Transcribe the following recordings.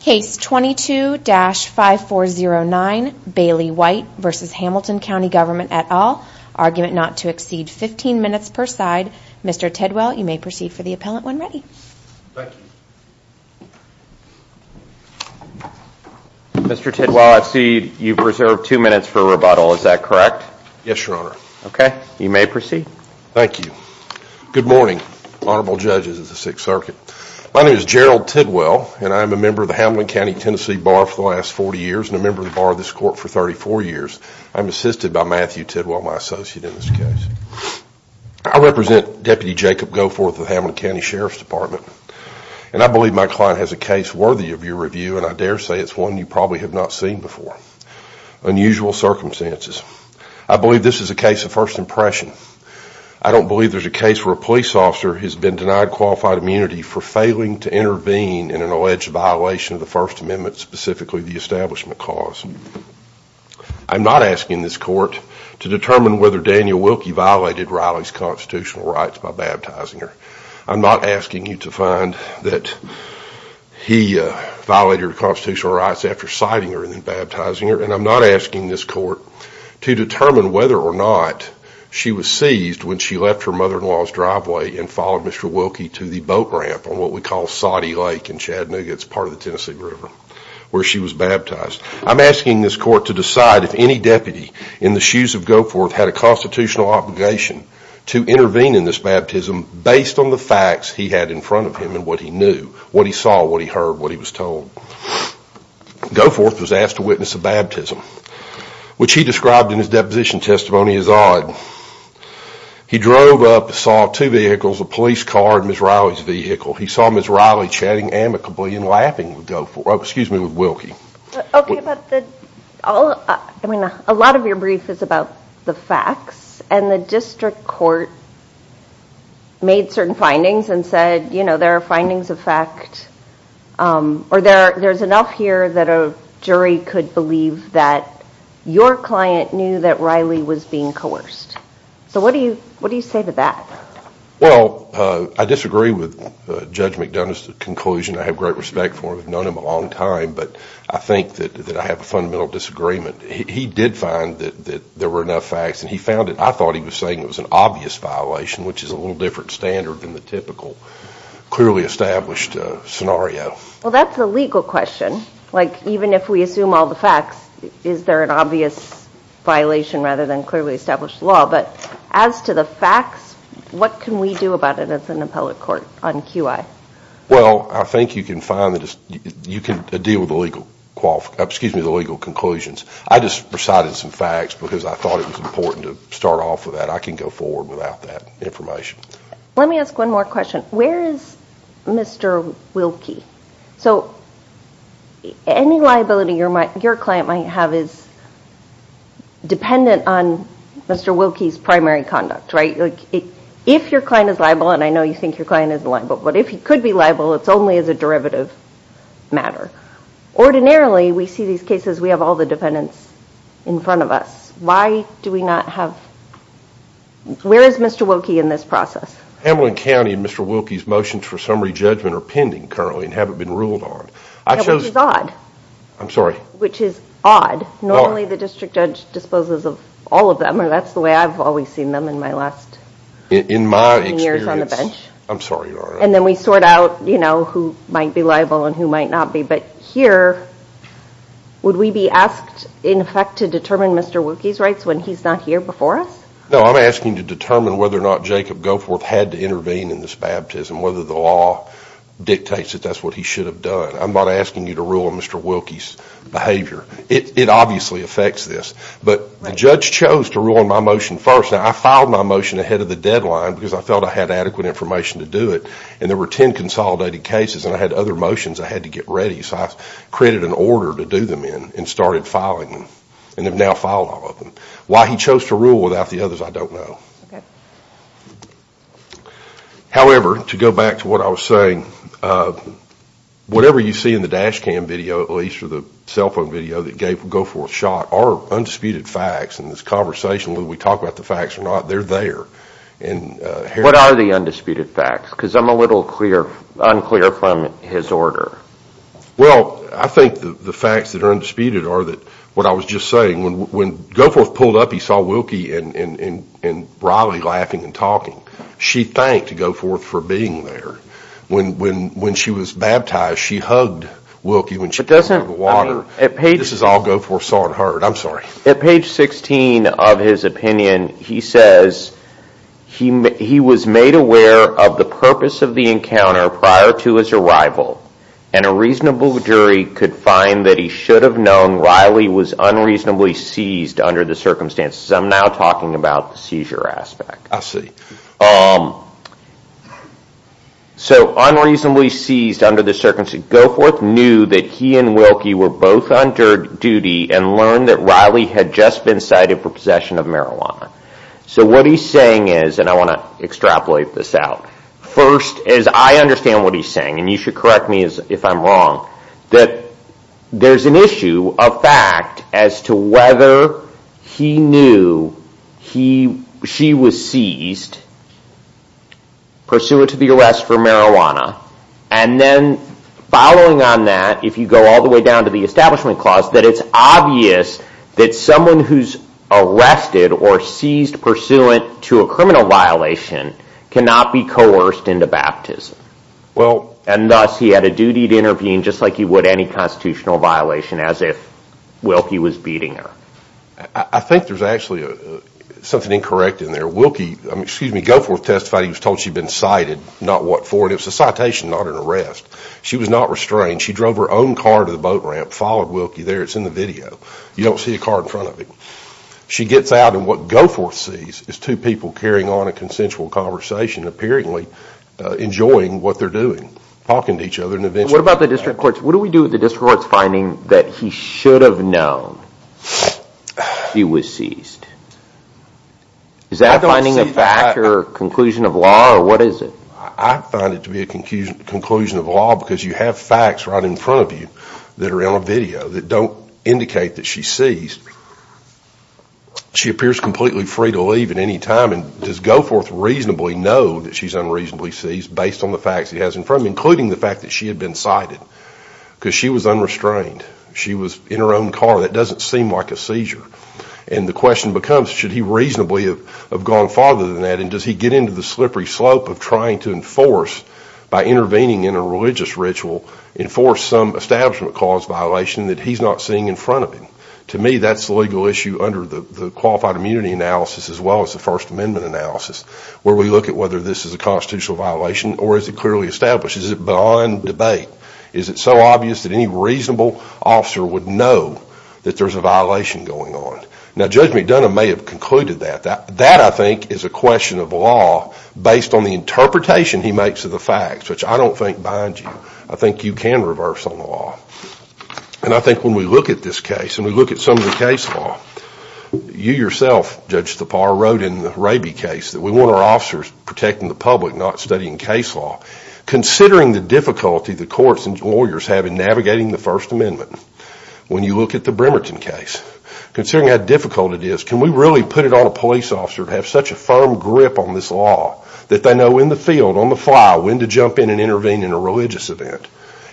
Case 22-5409, Bailey White v. Hamilton Cnty Gov at all, argument not to exceed 15 minutes per side. Mr. Tidwell, you may proceed for the appellant when ready. Mr. Tidwell, I see you've reserved two minutes for rebuttal, is that correct? Yes, Your Honor. Okay, you may proceed. Thank you. Good morning, Honorable Judges of the Sixth Circuit. My name is Gerald Tidwell, and I am a member of the Hamilton Cnty Tennessee Bar for the last 40 years and a member of the Bar of this Court for 34 years. I'm assisted by Matthew Tidwell, my associate in this case. I represent Deputy Jacob Goforth of the Hamilton Cnty Sheriff's Department, and I believe my client has a case worthy of your review, and I dare say it's one you probably have not seen before. Unusual Circumstances. I believe this is a case of first impression. I don't believe there's a case where a police officer has been denied qualified immunity for failing to intervene in an alleged violation of the First Amendment, specifically the establishment clause. I'm not asking this court to determine whether Daniel Wilkie violated Riley's constitutional rights by baptizing her. I'm not asking you to find that he violated her constitutional rights after citing her and then baptizing her, and I'm not asking this court to determine whether or not she was seized when she left her mother-in-law's driveway and followed Mr. Wilkie to the boat ramp on what we call Soddy Lake in Chattanooga, it's part of the Tennessee River, where she was baptized. I'm asking this court to decide if any deputy in the shoes of Goforth had a constitutional obligation to intervene in this baptism based on the facts he had in front of him and what he knew, what he saw, what he heard, what he was told. Goforth was asked to witness a baptism, which he described in his deposition testimony as odd. He drove up and saw two vehicles, a police car and Ms. Riley's vehicle. He saw Ms. Riley chatting amicably and laughing with Wilkie. A lot of your brief is about the facts, and the district court made certain findings and said there are findings of fact, or there's enough here that a jury could believe that your client knew that Riley was being coerced. So what do you say to that? Well, I disagree with Judge McDonough's conclusion. I have great respect for him. I've known him a long time, but I think that I have a fundamental disagreement. He did find that there were enough facts, and he found it. I thought he was saying it was an obvious violation, which is a little different standard than the typical clearly established scenario. Well, that's a legal question. Even if we assume all the facts, is there an obvious violation rather than clearly established law? But as to the facts, what can we do about it as an appellate court on QI? Well, I think you can deal with the legal conclusions. I just recited some facts because I thought it was important to start off with that. I can go forward without that information. Let me ask one more question. Where is Mr. Wilkie? So any liability your client might have is dependent on Mr. Wilkie's primary conduct, right? If your client is liable, and I know you think your client is liable, but if he could be liable, it's only as a derivative matter. Ordinarily, we see these cases, we have all the defendants in front of us. Why do we not have... Where is Mr. Wilkie in this process? Hamlin County and Mr. Wilkie's motions for summary judgment are pending currently and haven't been ruled on. Which is odd. I'm sorry? Which is odd. Normally, the district judge disposes of all of them, or that's the way I've always seen them in my last... In my experience.... years on the bench. I'm sorry, Your Honor. And then we sort out who might be liable and who might not be. But here, would we be asked, in effect, to determine Mr. Wilkie's rights when he's not here before us? No, I'm asking to determine whether or not Jacob Goforth had to intervene in this baptism, whether the law dictates that that's what he should have done. I'm not asking you to rule on Mr. Wilkie's behavior. It obviously affects this. But the judge chose to rule on my motion first. Now, I filed my motion ahead of the deadline because I felt I had adequate information to do it. And there were 10 consolidated cases, and I had other motions I had to get ready. So I created an order to do them in and started filing them, and have now filed all of them. Why he chose to rule without the others, I don't know. Okay. However, to go back to what I was saying, whatever you see in the dash cam video, at least, or the cell phone video that gave Goforth's shot are undisputed facts. And this conversation, whether we talk about the facts or not, they're there. And here... What are the undisputed facts? Because I'm a little unclear from his order. Well, I think the facts that are undisputed are that, what I was just saying, when Goforth pulled up, he saw Wilkie and Riley laughing and talking. She thanked Goforth for being there. When she was baptized, she hugged Wilkie when she came out of the water. This is all Goforth saw and heard. I'm sorry. At page 16 of his opinion, he says, he was made aware of the purpose of the encounter prior to his arrival, and a reasonable jury could find that he should have known Riley was unreasonably seized under the circumstances. I'm now talking about the seizure aspect. So unreasonably seized under the circumstances. Goforth knew that he and Wilkie were both on duty and learned that Riley had just been cited for possession of marijuana. So what he's saying is, and I want to extrapolate this out, first, as I understand what he's saying wrong, that there's an issue of fact as to whether he knew she was seized pursuant to the arrest for marijuana, and then following on that, if you go all the way down to the establishment clause, that it's obvious that someone who's arrested or seized pursuant to a criminal violation cannot be coerced into baptism. And thus, he had a duty to intervene just like he would any constitutional violation, as if Wilkie was beating her. I think there's actually something incorrect in there. Wilkie, excuse me, Goforth testified he was told she'd been cited, not what for, and it was a citation, not an arrest. She was not restrained. She drove her own car to the boat ramp, followed Wilkie there, it's in the video. You don't see a car in front of him. She gets out, and what Goforth sees is two people carrying on a consensual conversation and apparently enjoying what they're doing, talking to each other, and eventually... What about the district courts? What do we do with the district courts finding that he should have known she was seized? Is that finding a fact or conclusion of law, or what is it? I find it to be a conclusion of law because you have facts right in front of you that are in a video that don't indicate that she's seized. She appears completely free to leave at any time, and does Goforth reasonably know that she's unreasonably seized based on the facts he has in front of him, including the fact that she had been cited, because she was unrestrained. She was in her own car. That doesn't seem like a seizure. And the question becomes, should he reasonably have gone farther than that, and does he get into the slippery slope of trying to enforce, by intervening in a religious ritual, enforce some establishment cause violation that he's not seeing in front of him? To me, that's the legal issue under the qualified immunity analysis, as well as the First Amendment analysis, where we look at whether this is a constitutional violation, or is it clearly established? Is it beyond debate? Is it so obvious that any reasonable officer would know that there's a violation going on? Now, Judge McDonough may have concluded that. That I think is a question of law based on the interpretation he makes of the facts, which I don't think binds you. I think you can reverse on the law. And I think when we look at this case, and we look at some of the case law, you yourself, Judge Tappar, wrote in the Rabie case that we want our officers protecting the public, not studying case law. Considering the difficulty the courts and lawyers have in navigating the First Amendment, when you look at the Bremerton case, considering how difficult it is, can we really put it on a police officer to have such a firm grip on this law, that they know in the field, on the fly, when to jump in and intervene in a religious event?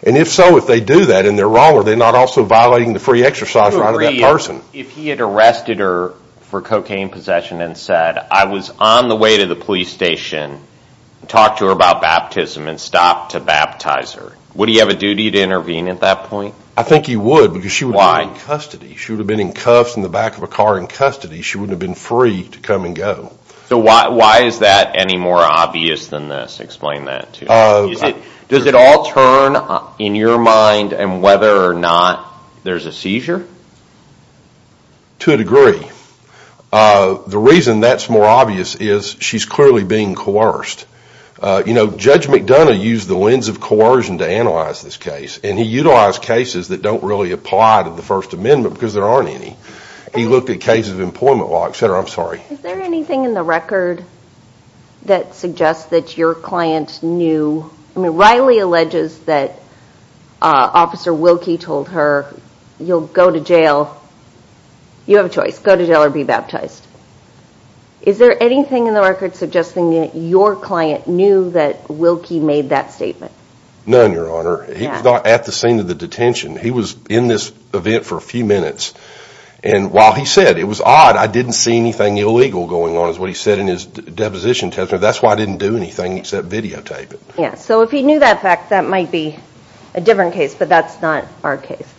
And if so, if they do that, and they're wrong, are they not also violating the free exercise right of that person? If he had arrested her for cocaine possession and said, I was on the way to the police station, talked to her about baptism, and stopped to baptize her, would he have a duty to intervene at that point? I think he would, because she would have been in custody. She would have been in cuffs in the back of a car in custody. She wouldn't have been free to come and go. So why is that any more obvious than this? Explain that to me. Does it all turn, in your mind, and whether or not there's a seizure? To a degree. The reason that's more obvious is she's clearly being coerced. Judge McDonough used the lens of coercion to analyze this case, and he utilized cases that don't really apply to the First Amendment, because there aren't any. He looked at cases of employment law, et cetera. I'm sorry. Is there anything in the record that suggests that your client knew, I mean Riley alleges that Officer Wilkie told her, you'll go to jail, you have a choice, go to jail or be baptized. Is there anything in the record suggesting that your client knew that Wilkie made that statement? None, Your Honor. He was at the scene of the detention. He was in this event for a few minutes, and while he said, it was odd, I didn't see anything illegal going on, is what he said in his deposition testimony. That's why I didn't do anything except videotape it. Yes. If he knew that fact, that might be a different case, but that's not our case.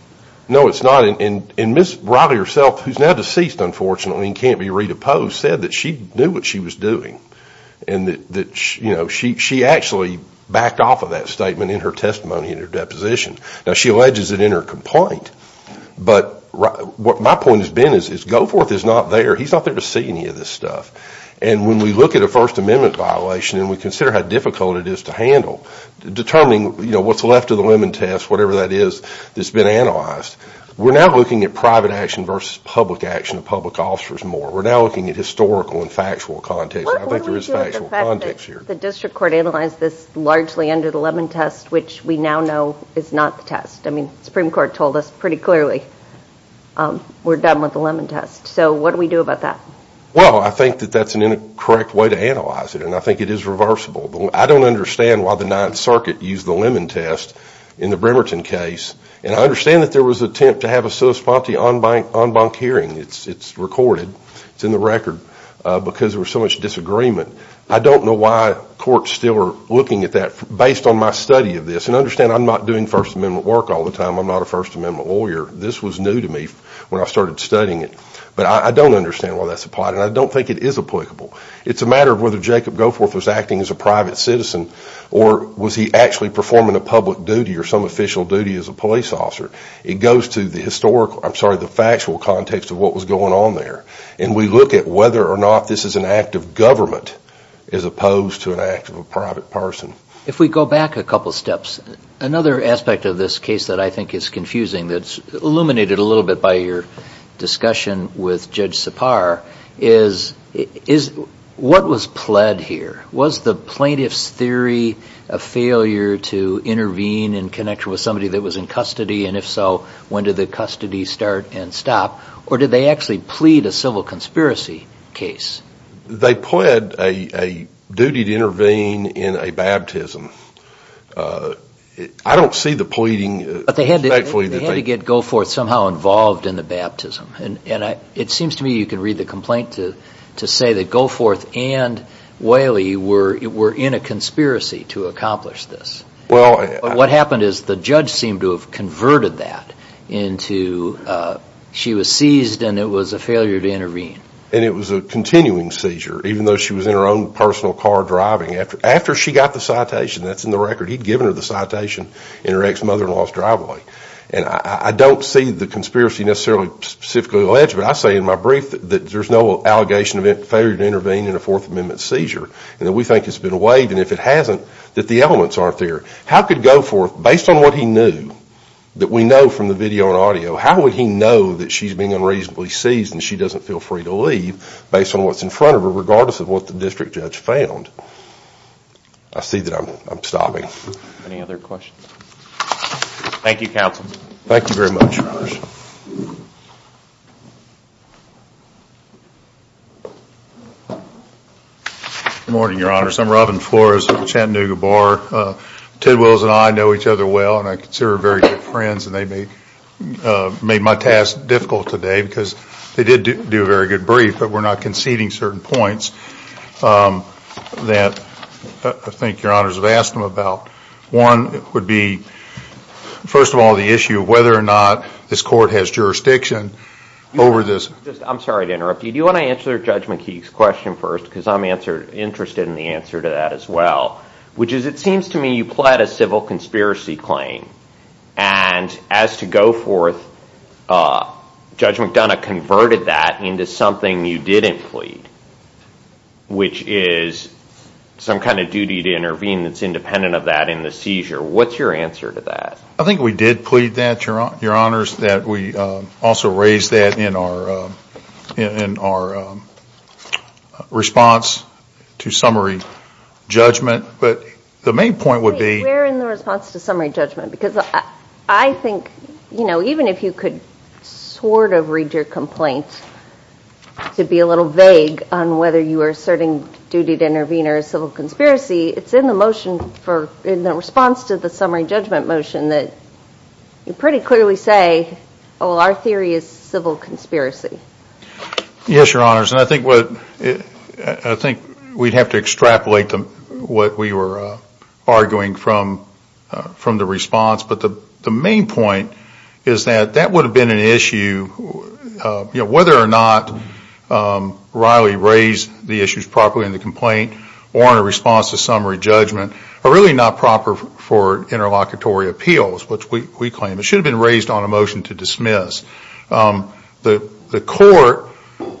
No, it's not. Ms. Riley herself, who's now deceased, unfortunately, and can't be re-deposed, said that she knew what she was doing. She actually backed off of that statement in her testimony, in her deposition. She alleges it in her complaint, but what my point has been is Goforth is not there. We're not there to see any of this stuff, and when we look at a First Amendment violation and we consider how difficult it is to handle, determining what's left of the Lemon Test, whatever that is, that's been analyzed, we're now looking at private action versus public action of public officers more. We're now looking at historical and factual context, and I think there is factual context here. The District Court analyzed this largely under the Lemon Test, which we now know is not the test. I mean, the Supreme Court told us pretty clearly we're done with the Lemon Test, so what do we do about that? Well, I think that that's an incorrect way to analyze it, and I think it is reversible. I don't understand why the Ninth Circuit used the Lemon Test in the Bremerton case, and I understand that there was an attempt to have a sua sponte en banc hearing. It's recorded. It's in the record, because there was so much disagreement. I don't know why courts still are looking at that based on my study of this, and understand I'm not doing First Amendment work all the time. I'm not a First Amendment lawyer. This was new to me when I started studying it, but I don't understand why that's applied, and I don't think it is applicable. It's a matter of whether Jacob Goforth was acting as a private citizen or was he actually performing a public duty or some official duty as a police officer. It goes to the factual context of what was going on there, and we look at whether or not this is an act of government as opposed to an act of a private person. If we go back a couple of steps, another aspect of this case that I think is confusing that's illuminated a little bit by your discussion with Judge Sipar is what was pled here? Was the plaintiff's theory a failure to intervene in connection with somebody that was in custody, and if so, when did the custody start and stop, or did they actually plead a civil conspiracy case? They pled a duty to intervene in a baptism. I don't see the pleading. But they had to get Goforth somehow involved in the baptism. It seems to me you can read the complaint to say that Goforth and Whaley were in a conspiracy to accomplish this. What happened is the judge seemed to have converted that into she was seized and it was a failure to intervene. It was a continuing seizure, even though she was in her own personal car driving. After she got the citation, that's in the record, he'd given her the citation in her ex-mother-in-law's driveway. I don't see the conspiracy necessarily specifically alleged, but I say in my brief that there's no allegation of failure to intervene in a Fourth Amendment seizure. We think it's been weighed, and if it hasn't, that the elements aren't there. How could Goforth, based on what he knew, that we know from the video and audio, how he doesn't feel free to leave, based on what's in front of her, regardless of what the district judge found? I see that I'm stopping. Any other questions? Thank you, counsel. Thank you very much, your honors. Good morning, your honors. I'm Robin Flores of the Chattanooga Bar. Tidwells and I know each other well, and I consider her very good friends, and they made my task difficult today, because they did do a very good brief, but we're not conceding certain points that I think your honors have asked them about. One would be, first of all, the issue of whether or not this court has jurisdiction over this. I'm sorry to interrupt you. Do you want to answer Judge McKee's question first, because I'm interested in the answer to that as well, which is it seems to me you pled a civil conspiracy claim, and as to go forth, Judge McDonough converted that into something you didn't plead, which is some kind of duty to intervene that's independent of that in the seizure. What's your answer to that? I think we did plead that, your honors, that we also raised that in our response to summary judgment, but the main point would be- Well, even if you could sort of read your complaint to be a little vague on whether you are asserting duty to intervene or a civil conspiracy, it's in the motion, in the response to the summary judgment motion, that you pretty clearly say, oh, our theory is civil conspiracy. Yes, your honors, and I think we'd have to extrapolate what we were arguing from the main point is that that would have been an issue, whether or not Riley raised the issues properly in the complaint or in response to summary judgment, are really not proper for interlocutory appeals, which we claim. It should have been raised on a motion to dismiss. The court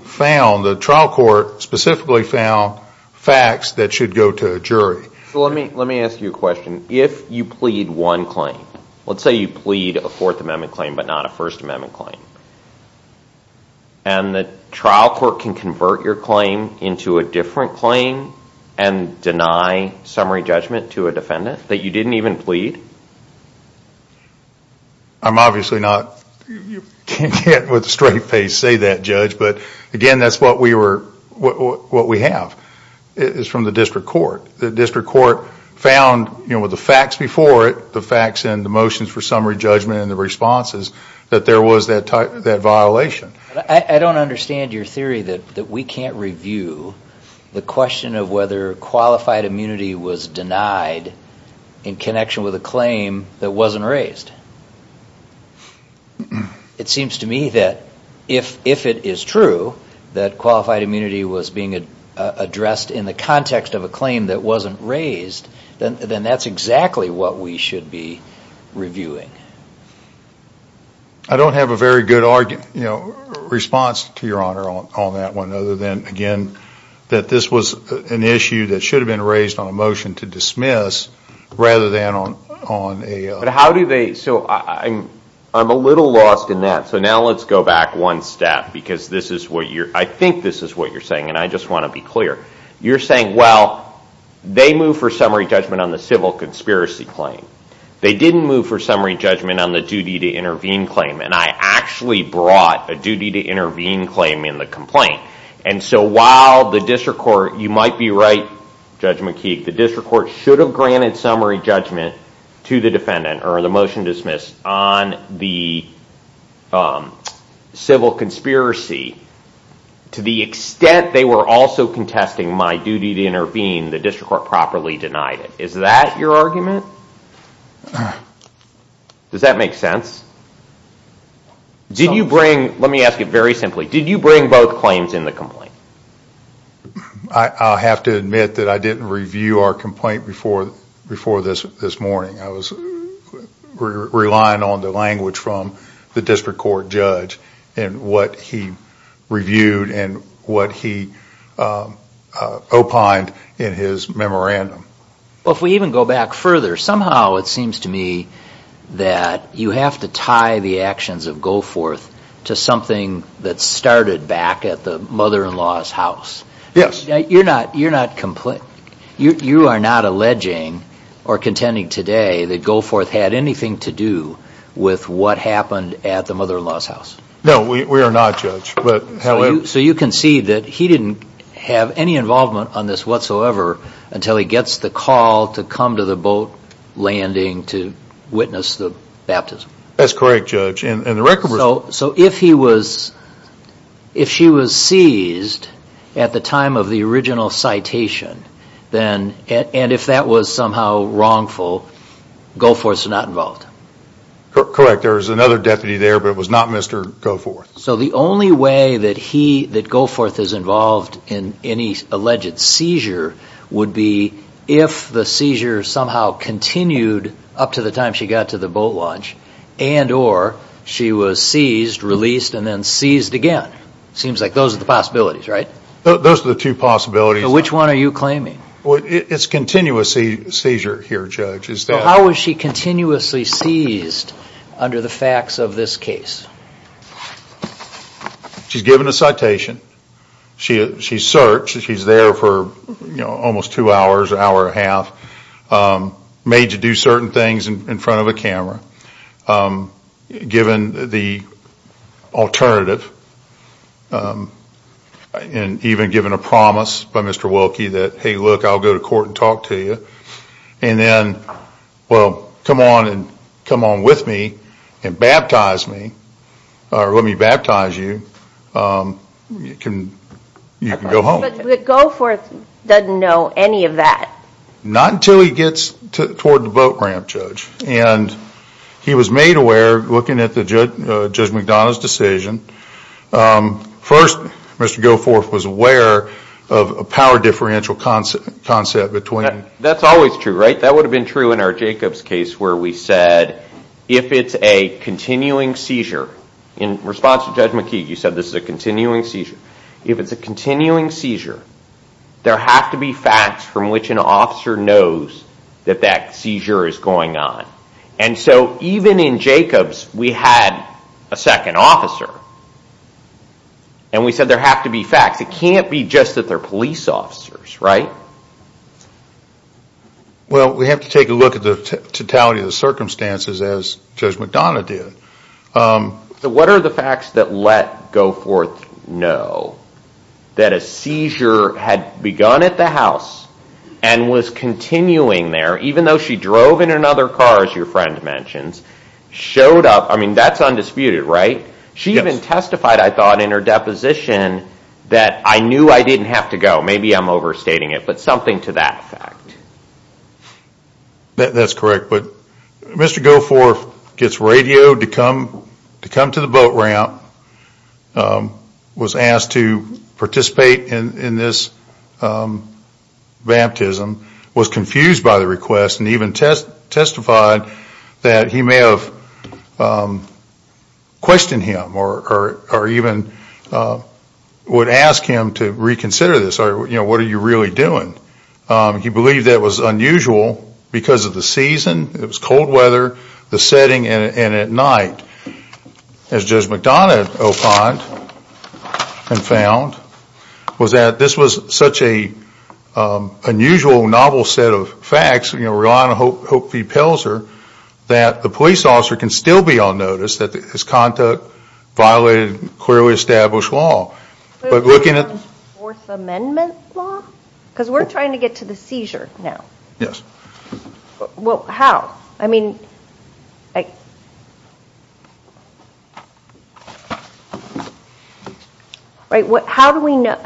found, the trial court specifically found facts that should go to a jury. Let me ask you a question. If you plead one claim, let's say you plead a Fourth Amendment claim, but not a First Amendment claim, and the trial court can convert your claim into a different claim and deny summary judgment to a defendant that you didn't even plead? I'm obviously not, you can't with a straight face say that, Judge, but again, that's what we have. It's from the district court. The district court found with the facts before it, the facts and the motions for summary judgment and the responses, that there was that violation. I don't understand your theory that we can't review the question of whether qualified immunity was denied in connection with a claim that wasn't raised. It seems to me that if it is true that qualified immunity was being addressed in the context of a claim that wasn't raised, then that's exactly what we should be reviewing. I don't have a very good response to your honor on that one, other than, again, that this was an issue that should have been raised on a motion to dismiss, rather than on a- How do they, so I'm a little lost in that, so now let's go back one step, because this is what you're, I think this is what you're saying, and I just want to be clear. You're saying, well, they moved for summary judgment on the civil conspiracy claim. They didn't move for summary judgment on the duty to intervene claim, and I actually brought a duty to intervene claim in the complaint, and so while the district court, you might be right, Judge McKeague, the district court should have granted summary judgment to the intervene, the district court properly denied it. Is that your argument? Does that make sense? Did you bring, let me ask you very simply, did you bring both claims in the complaint? I'll have to admit that I didn't review our complaint before this morning. I was relying on the language from the district court judge, and what he reviewed, and what he opined in his memorandum. Well, if we even go back further, somehow it seems to me that you have to tie the actions of Goforth to something that started back at the mother-in-law's house. Yes. You're not alleging or contending today that Goforth had anything to do with what happened at the mother-in-law's house. No, we are not, Judge. So you concede that he didn't have any involvement on this whatsoever until he gets the call to come to the boat landing to witness the baptism. That's correct, Judge. So if he was, if she was seized at the time of the original citation, and if that was somehow wrongful, Goforth's not involved? Correct. There's another deputy there, but it was not Mr. Goforth. So the only way that Goforth is involved in any alleged seizure would be if the seizure somehow continued up to the time she got to the boat launch, and or she was seized, released, and then seized again. Seems like those are the possibilities, right? Those are the two possibilities. Which one are you claiming? It's continuous seizure here, Judge. How was she continuously seized under the facts of this case? She's given a citation. She searched. She's there for almost two hours, an hour and a half, made to do certain things in front of a camera, given the alternative, and even given a promise by Mr. Wilkie that, hey, look, I'll go to court and talk to you, and then, well, come on and come on with me and baptize me, or let me baptize you, you can go home. But Goforth doesn't know any of that. Not until he gets toward the boat ramp, Judge. And he was made aware, looking at Judge McDonough's decision, first, Mr. Goforth was aware of a power differential concept between... That's always true, right? That would have been true in our Jacobs case, where we said, if it's a continuing seizure, in response to Judge McKeague, you said this is a continuing seizure. If it's a continuing seizure, there have to be facts from which an officer knows that that seizure is going on. And so even in Jacobs, we had a second officer, and we said there have to be facts. It can't be just that they're police officers, right? Well, we have to take a look at the totality of the circumstances, as Judge McDonough did. What are the facts that let Goforth know that a seizure had begun at the house, and was continuing there, even though she drove in another car, as your friend mentions, showed up, I mean, that's undisputed, right? She even testified, I thought, in her deposition, that I knew I didn't have to go. Maybe I'm overstating it, but something to that effect. That's correct, but Mr. Goforth gets radioed to come to the boat ramp, was asked to participate in this baptism, was confused by the request, and even testified that he may have questioned him, or even would ask him to reconsider this, or what are you really doing? He believed that it was unusual because of the season, it was cold weather, the setting, and at night. As Judge McDonough opined and found, was that this was such an unusual novel set of facts, relying on Hope V. Pelzer, that the police officer can still be on notice, that his conduct violated clearly established law, but looking at... Fourth Amendment law? Because we're trying to get to the seizure now. Yes. Well, how? I mean, how do we know,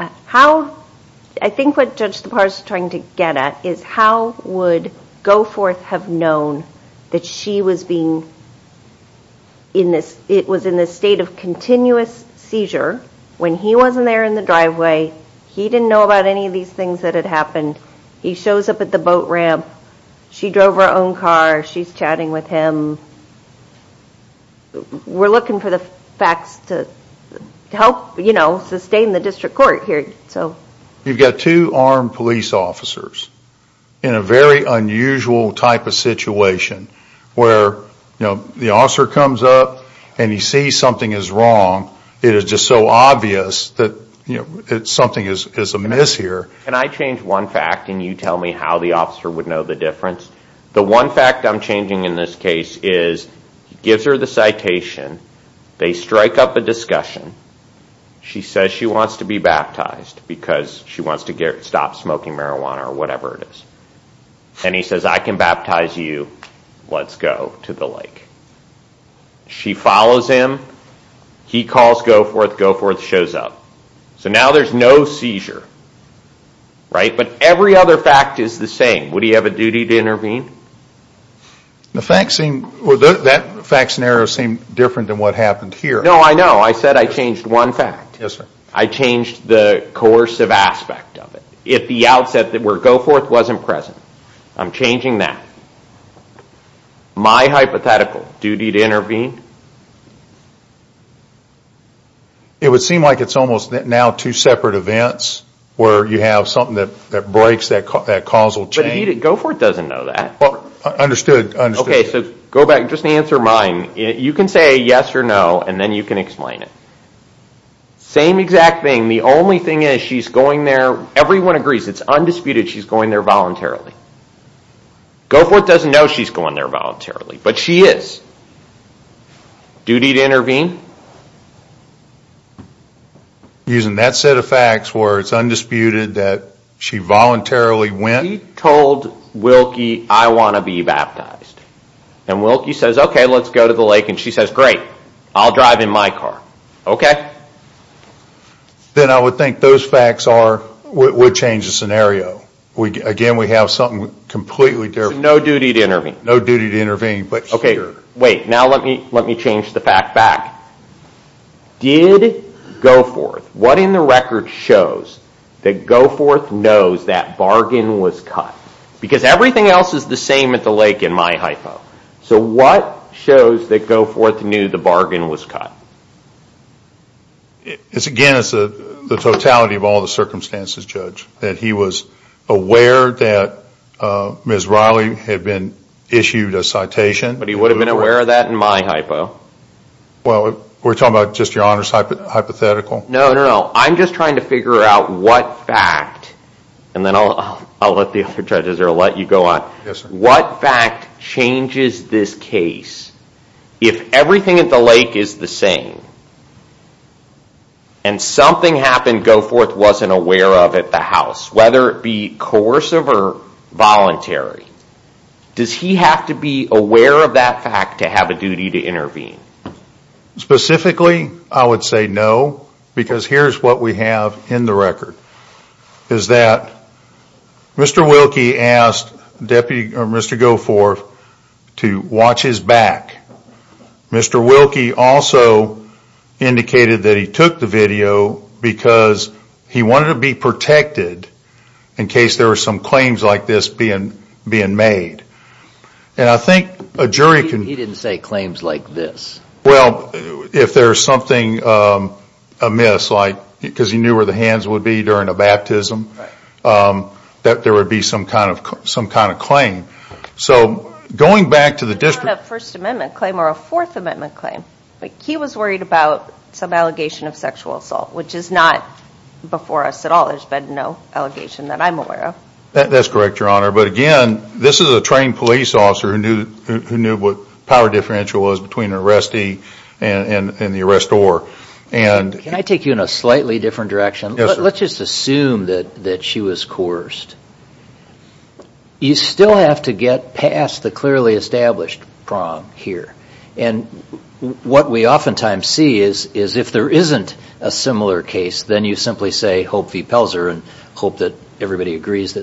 I think what Judge Tappara is trying to get at, is how would Goforth have known that she was being... It was in the state of continuous seizure, when he wasn't there in the driveway, he didn't know about any of these things that had happened. He shows up at the boat ramp, she drove her own car, she's chatting with him. We're looking for the facts to help sustain the district court here. You've got two armed police officers in a very unusual type of situation, where the officer comes up and he sees something is wrong, it is just so obvious that something is amiss here. Can I change one fact and you tell me how the officer would know the difference? The one fact I'm changing in this case is, he gives her the citation, they strike up a discussion, she says she wants to be baptized because she wants to stop smoking marijuana or whatever it is, and he says, I can baptize you, let's go to the lake. She follows him, he calls Goforth, Goforth shows up. So now there's no seizure, right? But every other fact is the same, would he have a duty to intervene? The facts seem... That fact scenario seemed different than what happened here. No, I know, I said I changed one fact. I changed the coercive aspect of it. If the outset where Goforth wasn't present, I'm changing that. My hypothetical, duty to intervene? It would seem like it's almost now two separate events where you have something that breaks that causal chain. But Goforth doesn't know that. Understood. Okay, so go back, just answer mine. You can say yes or no, and then you can explain it. Same exact thing, the only thing is she's going there, everyone agrees, it's undisputed she's going there voluntarily. Goforth doesn't know she's going there voluntarily, but she is. Duty to intervene? Using that set of facts where it's undisputed that she voluntarily went... She told Wilkie, I want to be baptized. And Wilkie says, okay, let's go to the lake, and she says, great, I'll drive in my car. Okay? Then I would think those facts would change the scenario. Again, we have something completely different. No duty to intervene. No duty to intervene, but sure. Wait, now let me change the fact back. Did Goforth, what in the record shows that Goforth knows that bargain was cut? Because everything else is the same at the lake in my hypo. So what shows that Goforth knew the bargain was cut? Again, it's the totality of all the circumstances, Judge. That he was aware that Ms. Riley had been issued a citation. But he would have been aware of that in my hypo. Well, we're talking about just your honor's hypothetical? No, no, no. I'm just trying to figure out what fact, and then I'll let the other judges or I'll let you go on. Yes, sir. What fact changes this case? If everything at the lake is the same, and something happened Goforth wasn't aware of at the house, whether it be coercive or voluntary, does he have to be aware of that fact to have a duty to intervene? Specifically, I would say no, because here's what we have in the record. Is that Mr. Wilkie asked Mr. Goforth to watch his back. Mr. Wilkie also indicated that he took the video because he wanted to be protected in case there were some claims like this being made. He didn't say claims like this. Well, if there's something amiss, because he knew where the hands would be during a baptism, that there would be some kind of claim. So going back to the district- It's not a First Amendment claim or a Fourth Amendment claim. He was worried about some allegation of sexual assault, which is not before us at all. There's been no allegation that I'm aware of. That's correct, Your Honor. But again, this is a trained police officer who knew what power differential was between an arrestee and the arrestor. Can I take you in a slightly different direction? Let's just assume that she was coerced. You still have to get past the clearly established prong here. What we oftentimes see is if there isn't a similar case, then you simply say, hope v. Pelzer,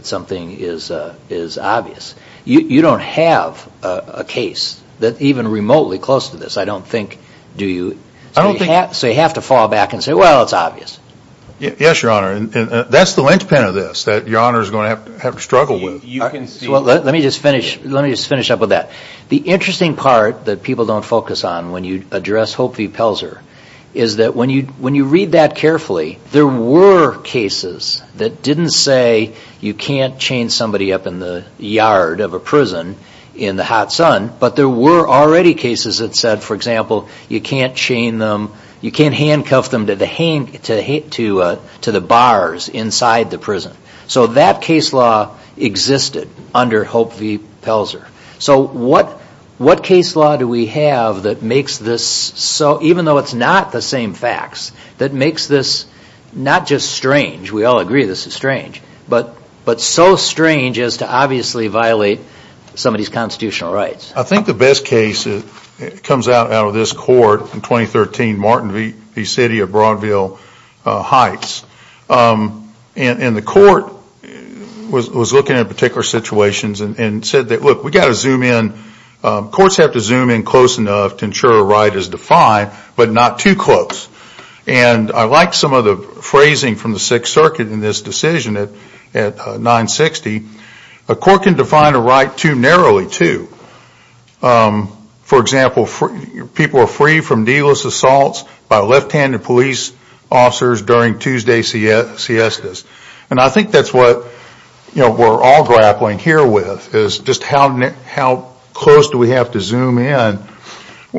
something is obvious. You don't have a case that's even remotely close to this, I don't think, do you? So you have to fall back and say, well, it's obvious. Yes, Your Honor. That's the linchpin of this that Your Honor is going to have to struggle with. You can see- Let me just finish up with that. The interesting part that people don't focus on when you address hope v. Pelzer is that when you read that carefully, there were cases that didn't say you can't chain somebody up in the yard of a prison in the hot sun, but there were already cases that said, for example, you can't handcuff them to the bars inside the prison. So that case law existed under hope v. Pelzer. So what case law do we have that makes this so, even though it's not the same facts, that makes this not just strange, we all agree this is strange, but so strange as to obviously violate somebody's constitutional rights? I think the best case comes out of this court in 2013, Martin v. City of Broadville Heights. And the court was looking at particular situations and said, look, we've got to zoom in. Courts have to zoom in close enough to ensure a right is defined, but not too close. And I like some of the phrasing from the Sixth Circuit in this decision at 960, a court can define a right too narrowly, too. For example, people are free from needless assaults by left-handed police officers during Tuesday siestas. And I think that's what we're all grappling here with, is just how close do we have to zoom in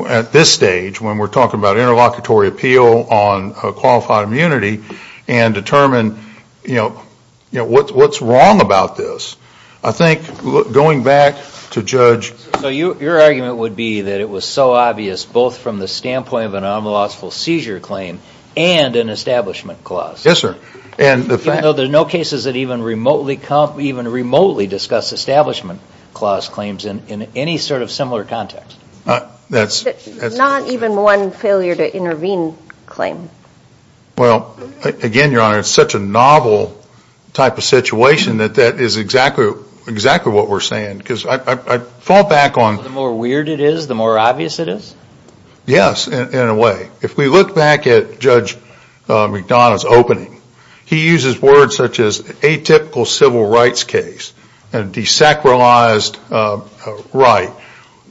at this stage, when we're talking about interlocutory appeal on qualified immunity, and determine what's wrong about this? I think going back to Judge- So your argument would be that it was so obvious, both from the standpoint of an unlawful seizure claim and an establishment clause? Yes, sir. Even though there are no cases that even remotely discuss establishment clause claims in any sort of similar context? Not even one failure to intervene claim. Well, again, Your Honor, it's such a novel type of situation that that is exactly what we're saying. Because I fall back on- The more weird it is, the more obvious it is? Yes, in a way. If we look back at Judge McDonough's opening, he uses words such as atypical civil rights case and desacralized right.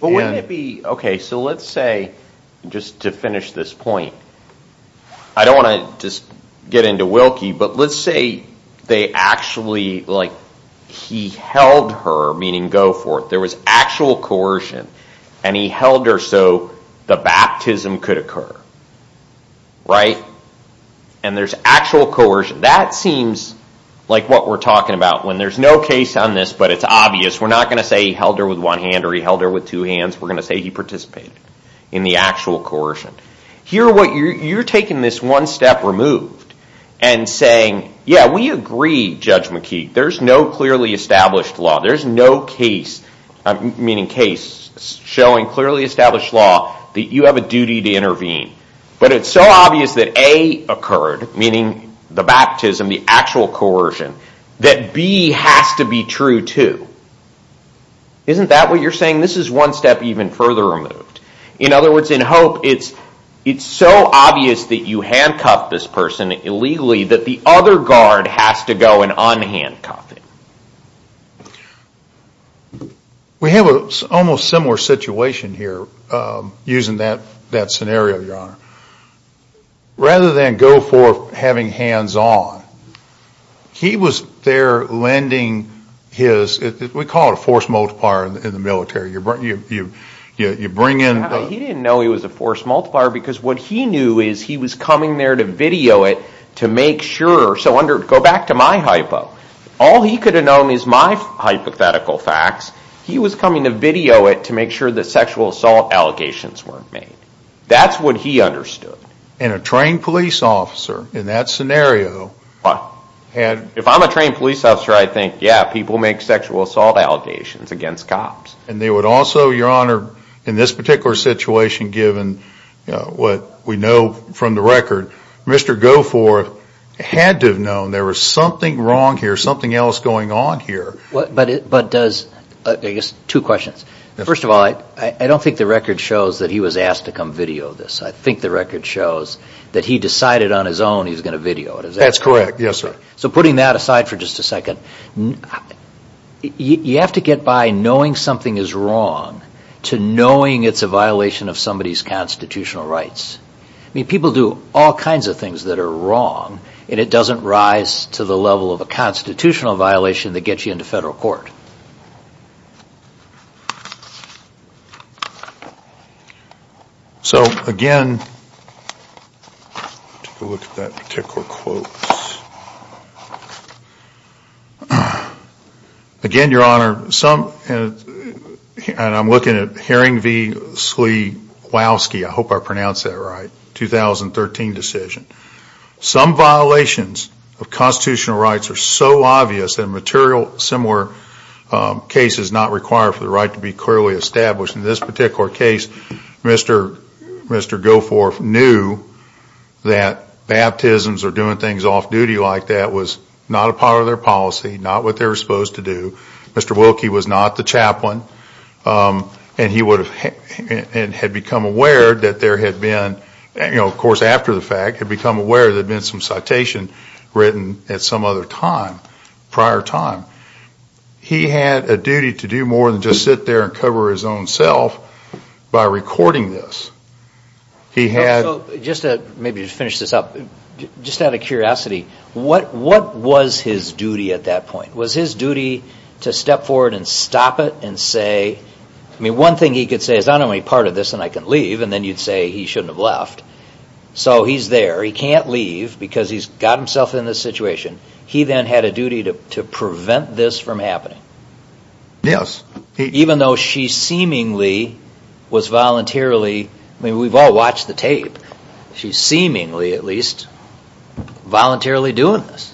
But wouldn't it be, okay, so let's say, just to finish this point, I don't want to just get into Wilkie, but let's say they actually, like, he held her, meaning go forth, there he held her so the baptism could occur, right? And there's actual coercion. That seems like what we're talking about. When there's no case on this, but it's obvious, we're not going to say he held her with one hand or he held her with two hands, we're going to say he participated in the actual coercion. Here, what you're taking this one step removed and saying, yeah, we agree, Judge McKee, there's no clearly established law. There's no case, meaning case showing clearly established law that you have a duty to intervene. But it's so obvious that A occurred, meaning the baptism, the actual coercion, that B has to be true too. Isn't that what you're saying? This is one step even further removed. In other words, in Hope, it's so obvious that you handcuffed this person illegally that the other guard has to go and unhandcuff it. We have an almost similar situation here, using that scenario, Your Honor. Rather than go forth having hands on, he was there lending his, we call it a force multiplier in the military. You bring in- He didn't know he was a force multiplier because what he knew is he was coming there to video it to make sure. Go back to my hypo. All he could have known is my hypothetical facts. He was coming to video it to make sure that sexual assault allegations weren't made. That's what he understood. And a trained police officer, in that scenario- If I'm a trained police officer, I think, yeah, people make sexual assault allegations against cops. They would also, Your Honor, in this particular situation, given what we know from the record, Mr. Goforth had to have known there was something wrong here, something else going on here. But does, I guess, two questions. First of all, I don't think the record shows that he was asked to come video this. I think the record shows that he decided on his own he was going to video it. That's correct. Yes, sir. So putting that aside for just a second, you have to get by knowing something is wrong to knowing it's a violation of somebody's constitutional rights. People do all kinds of things that are wrong and it doesn't rise to the level of a constitutional violation that gets you into federal court. So, again, let's take a look at that particular quote, again, Your Honor, and I'm looking at Herring v. Slewowski, I hope I pronounced that right, 2013 decision. Some violations of constitutional rights are so obvious that a material similar case is not required for the right to be clearly established. In this particular case, Mr. Goforth knew that baptisms or doing things off-duty like that was not a part of their policy, not what they were supposed to do. Mr. Wilkie was not the chaplain and he had become aware that there had been, of course after the fact, there had been some citation written at some other time, prior time. He had a duty to do more than just sit there and cover his own self by recording this. Just to maybe finish this up, just out of curiosity, what was his duty at that point? Was his duty to step forward and stop it and say, I mean, one thing he could say is I'm only part of this and I can leave, and then you'd say he shouldn't have left. So he's there. He can't leave because he's got himself in this situation. He then had a duty to prevent this from happening. Yes. Even though she seemingly was voluntarily, I mean, we've all watched the tape. She's seemingly, at least, voluntarily doing this.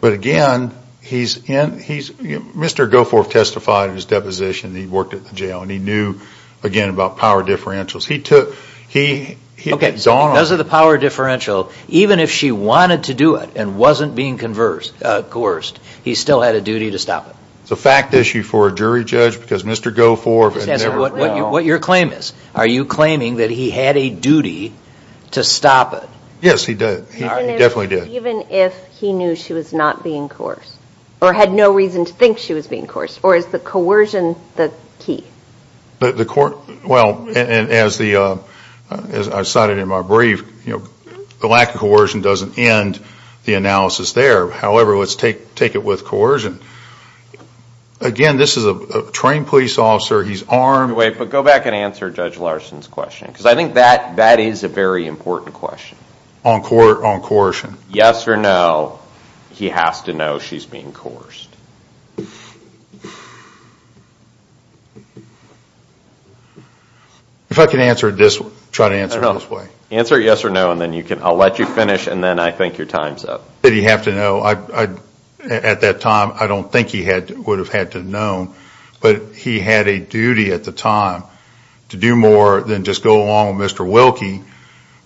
But again, he's in, Mr. Goforth testified in his deposition that he worked at the jail and he knew, again, about power differentials. He took, he, he had gone on. Okay. So those are the power differential. Even if she wanted to do it and wasn't being conversed, coerced, he still had a duty to stop it. It's a fact issue for a jury judge because Mr. Goforth had never. What your claim is. Are you claiming that he had a duty to stop it? Yes, he did. He definitely did. Even if he knew she was not being coerced or had no reason to think she was being coerced Or is the coercion the key? The coer... Well, as the, as I cited in my brief, the lack of coercion doesn't end the analysis there. However, let's take it with coercion. Again, this is a trained police officer. He's armed. Wait. But go back and answer Judge Larson's question. Because I think that, that is a very important question. On coercion. Yes or no, he has to know she's being coerced. If I can answer it this way, try to answer it this way. Answer it yes or no and then you can, I'll let you finish and then I think your time's up. Did he have to know? I, at that time, I don't think he had, would have had to know. But he had a duty at the time to do more than just go along with Mr. Wilkie.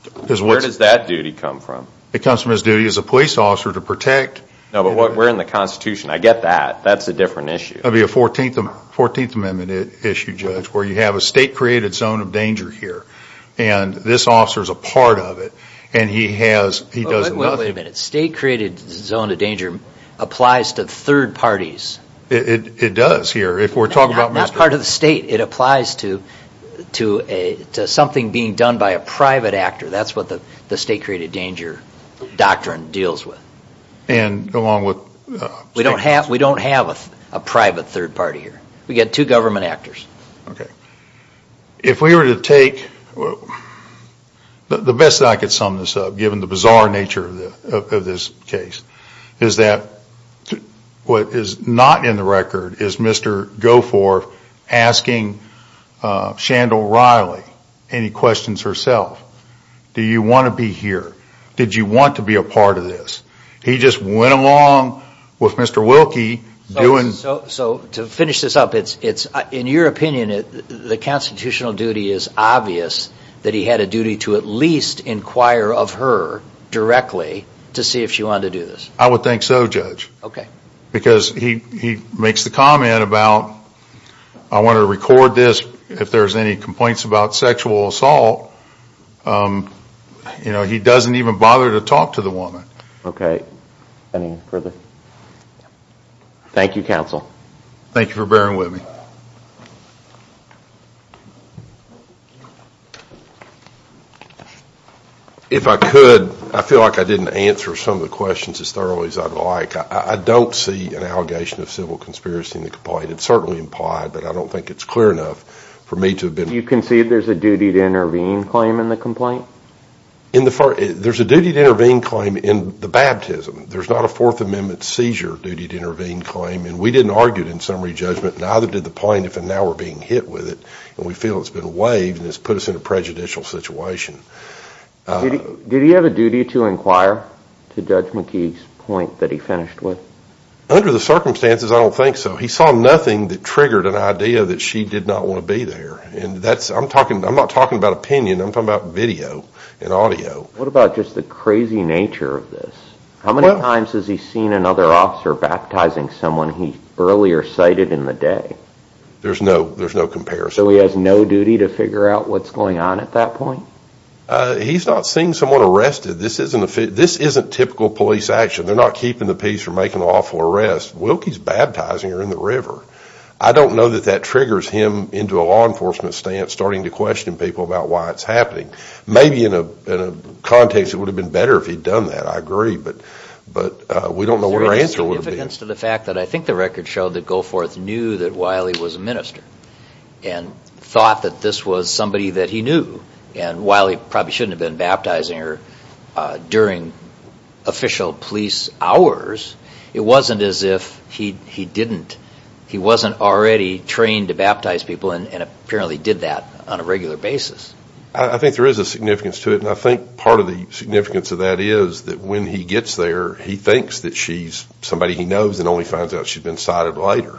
Because where does that duty come from? It comes from his duty as a police officer to protect. No, but we're in the Constitution. I get that. That's a different issue. That would be a 14th Amendment issue, Judge, where you have a state-created zone of danger here. And this officer's a part of it. And he has, he does nothing. Wait a minute. State-created zone of danger applies to third parties. It does here. If we're talking about Mr. Wilkie. Not part of the state. It applies to something being done by a private actor. That's what the state-created danger doctrine deals with. And along with... We don't have a private third party here. We've got two government actors. If we were to take, the best I could sum this up, given the bizarre nature of this case, is that what is not in the record is Mr. Goforth asking Shandell Riley any questions herself. Do you want to be here? Did you want to be a part of this? He just went along with Mr. Wilkie doing... So to finish this up, in your opinion, the constitutional duty is obvious that he had a duty to at least inquire of her directly to see if she wanted to do this. I would think so, Judge. Because he makes the comment about, I want to record this if there's any complaints about sexual assault. He doesn't even bother to talk to the woman. Okay. Anything further? Thank you, counsel. Thank you for bearing with me. If I could, I feel like I didn't answer some of the questions as thoroughly as I'd like. I don't see an allegation of civil conspiracy in the complaint. It's certainly implied, but I don't think it's clear enough for me to have been... You concede there's a duty to intervene claim in the complaint? There's a duty to intervene claim in the baptism. There's not a Fourth Amendment seizure duty to intervene claim. We didn't argue it in summary judgment, neither did the plaintiff, and now we're being hit with it. We feel it's been waived and it's put us in a prejudicial situation. Did he have a duty to inquire, to Judge McKee's point that he finished with? Under the circumstances, I don't think so. He saw nothing that triggered an idea that she did not want to be there. I'm not talking about opinion. I'm talking about video and audio. What about just the crazy nature of this? How many times has he seen another officer baptizing someone he earlier cited in the day? There's no comparison. So he has no duty to figure out what's going on at that point? He's not seeing someone arrested. This isn't typical police action. They're not keeping the peace or making an awful arrest. Wilkie's baptizing her in the river. I don't know that that triggers him into a law enforcement stance, starting to question people about why it's happening. Maybe in a context, it would have been better if he'd done that, I agree, but we don't know what our answer would be. Is there any significance to the fact that I think the record showed that Goforth knew that Wiley was a minister and thought that this was somebody that he knew, and Wiley probably shouldn't have been baptizing her during official police hours? It wasn't as if he didn't. He wasn't already trained to baptize people, and apparently did that on a regular basis. I think there is a significance to it, and I think part of the significance of that is that when he gets there, he thinks that she's somebody he knows and only finds out she's been cited later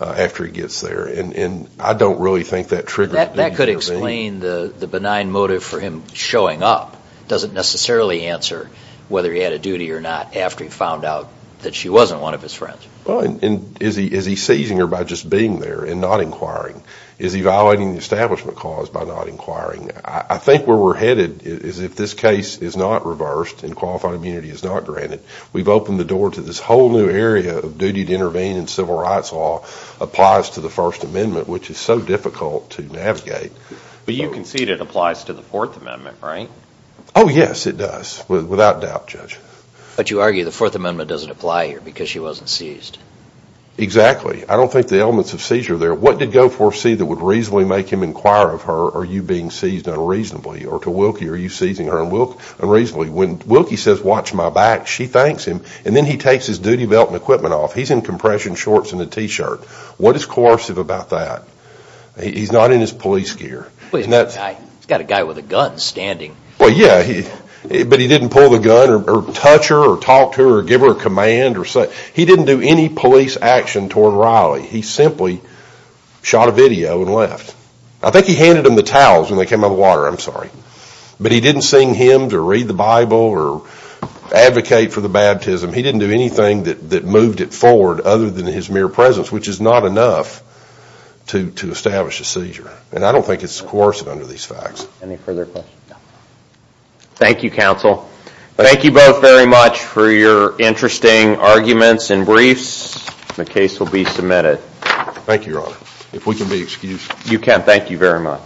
after he gets there, and I don't really think that triggered him. That could explain the benign motive for him showing up. It doesn't necessarily answer whether he had a duty or not after he found out that she wasn't one of his friends. Is he seizing her by just being there and not inquiring? Is he violating the establishment clause by not inquiring? I think where we're headed is if this case is not reversed and qualified immunity is not granted, we've opened the door to this whole new area of duty to intervene in civil rights law applies to the First Amendment, which is so difficult to navigate. But you concede it applies to the Fourth Amendment, right? Oh, yes, it does, without doubt, Judge. But you argue the Fourth Amendment doesn't apply here because she wasn't seized. Exactly. I don't think the elements of seizure are there. What did Goforth see that would reasonably make him inquire of her, are you being seized unreasonably, or to Wilkie, are you seizing her unreasonably? When Wilkie says, watch my back, she thanks him, and then he takes his duty belt and equipment off. He's in compression shorts and a t-shirt. What is coercive about that? He's not in his police gear. He's got a guy with a gun standing. Well, yeah, but he didn't pull the gun or touch her or talk to her or give her a command. He didn't do any police action toward Riley. He simply shot a video and left. I think he handed him the towels when they came out of the water, I'm sorry. But he didn't sing hymns or read the Bible or advocate for the baptism. He didn't do anything that moved it forward other than his mere presence, which is not enough to establish a seizure, and I don't think it's coercive under these facts. Any further questions? Thank you, counsel. Thank you both very much for your interesting arguments and briefs. The case will be submitted. Thank you, your honor. If we can be excused. You can.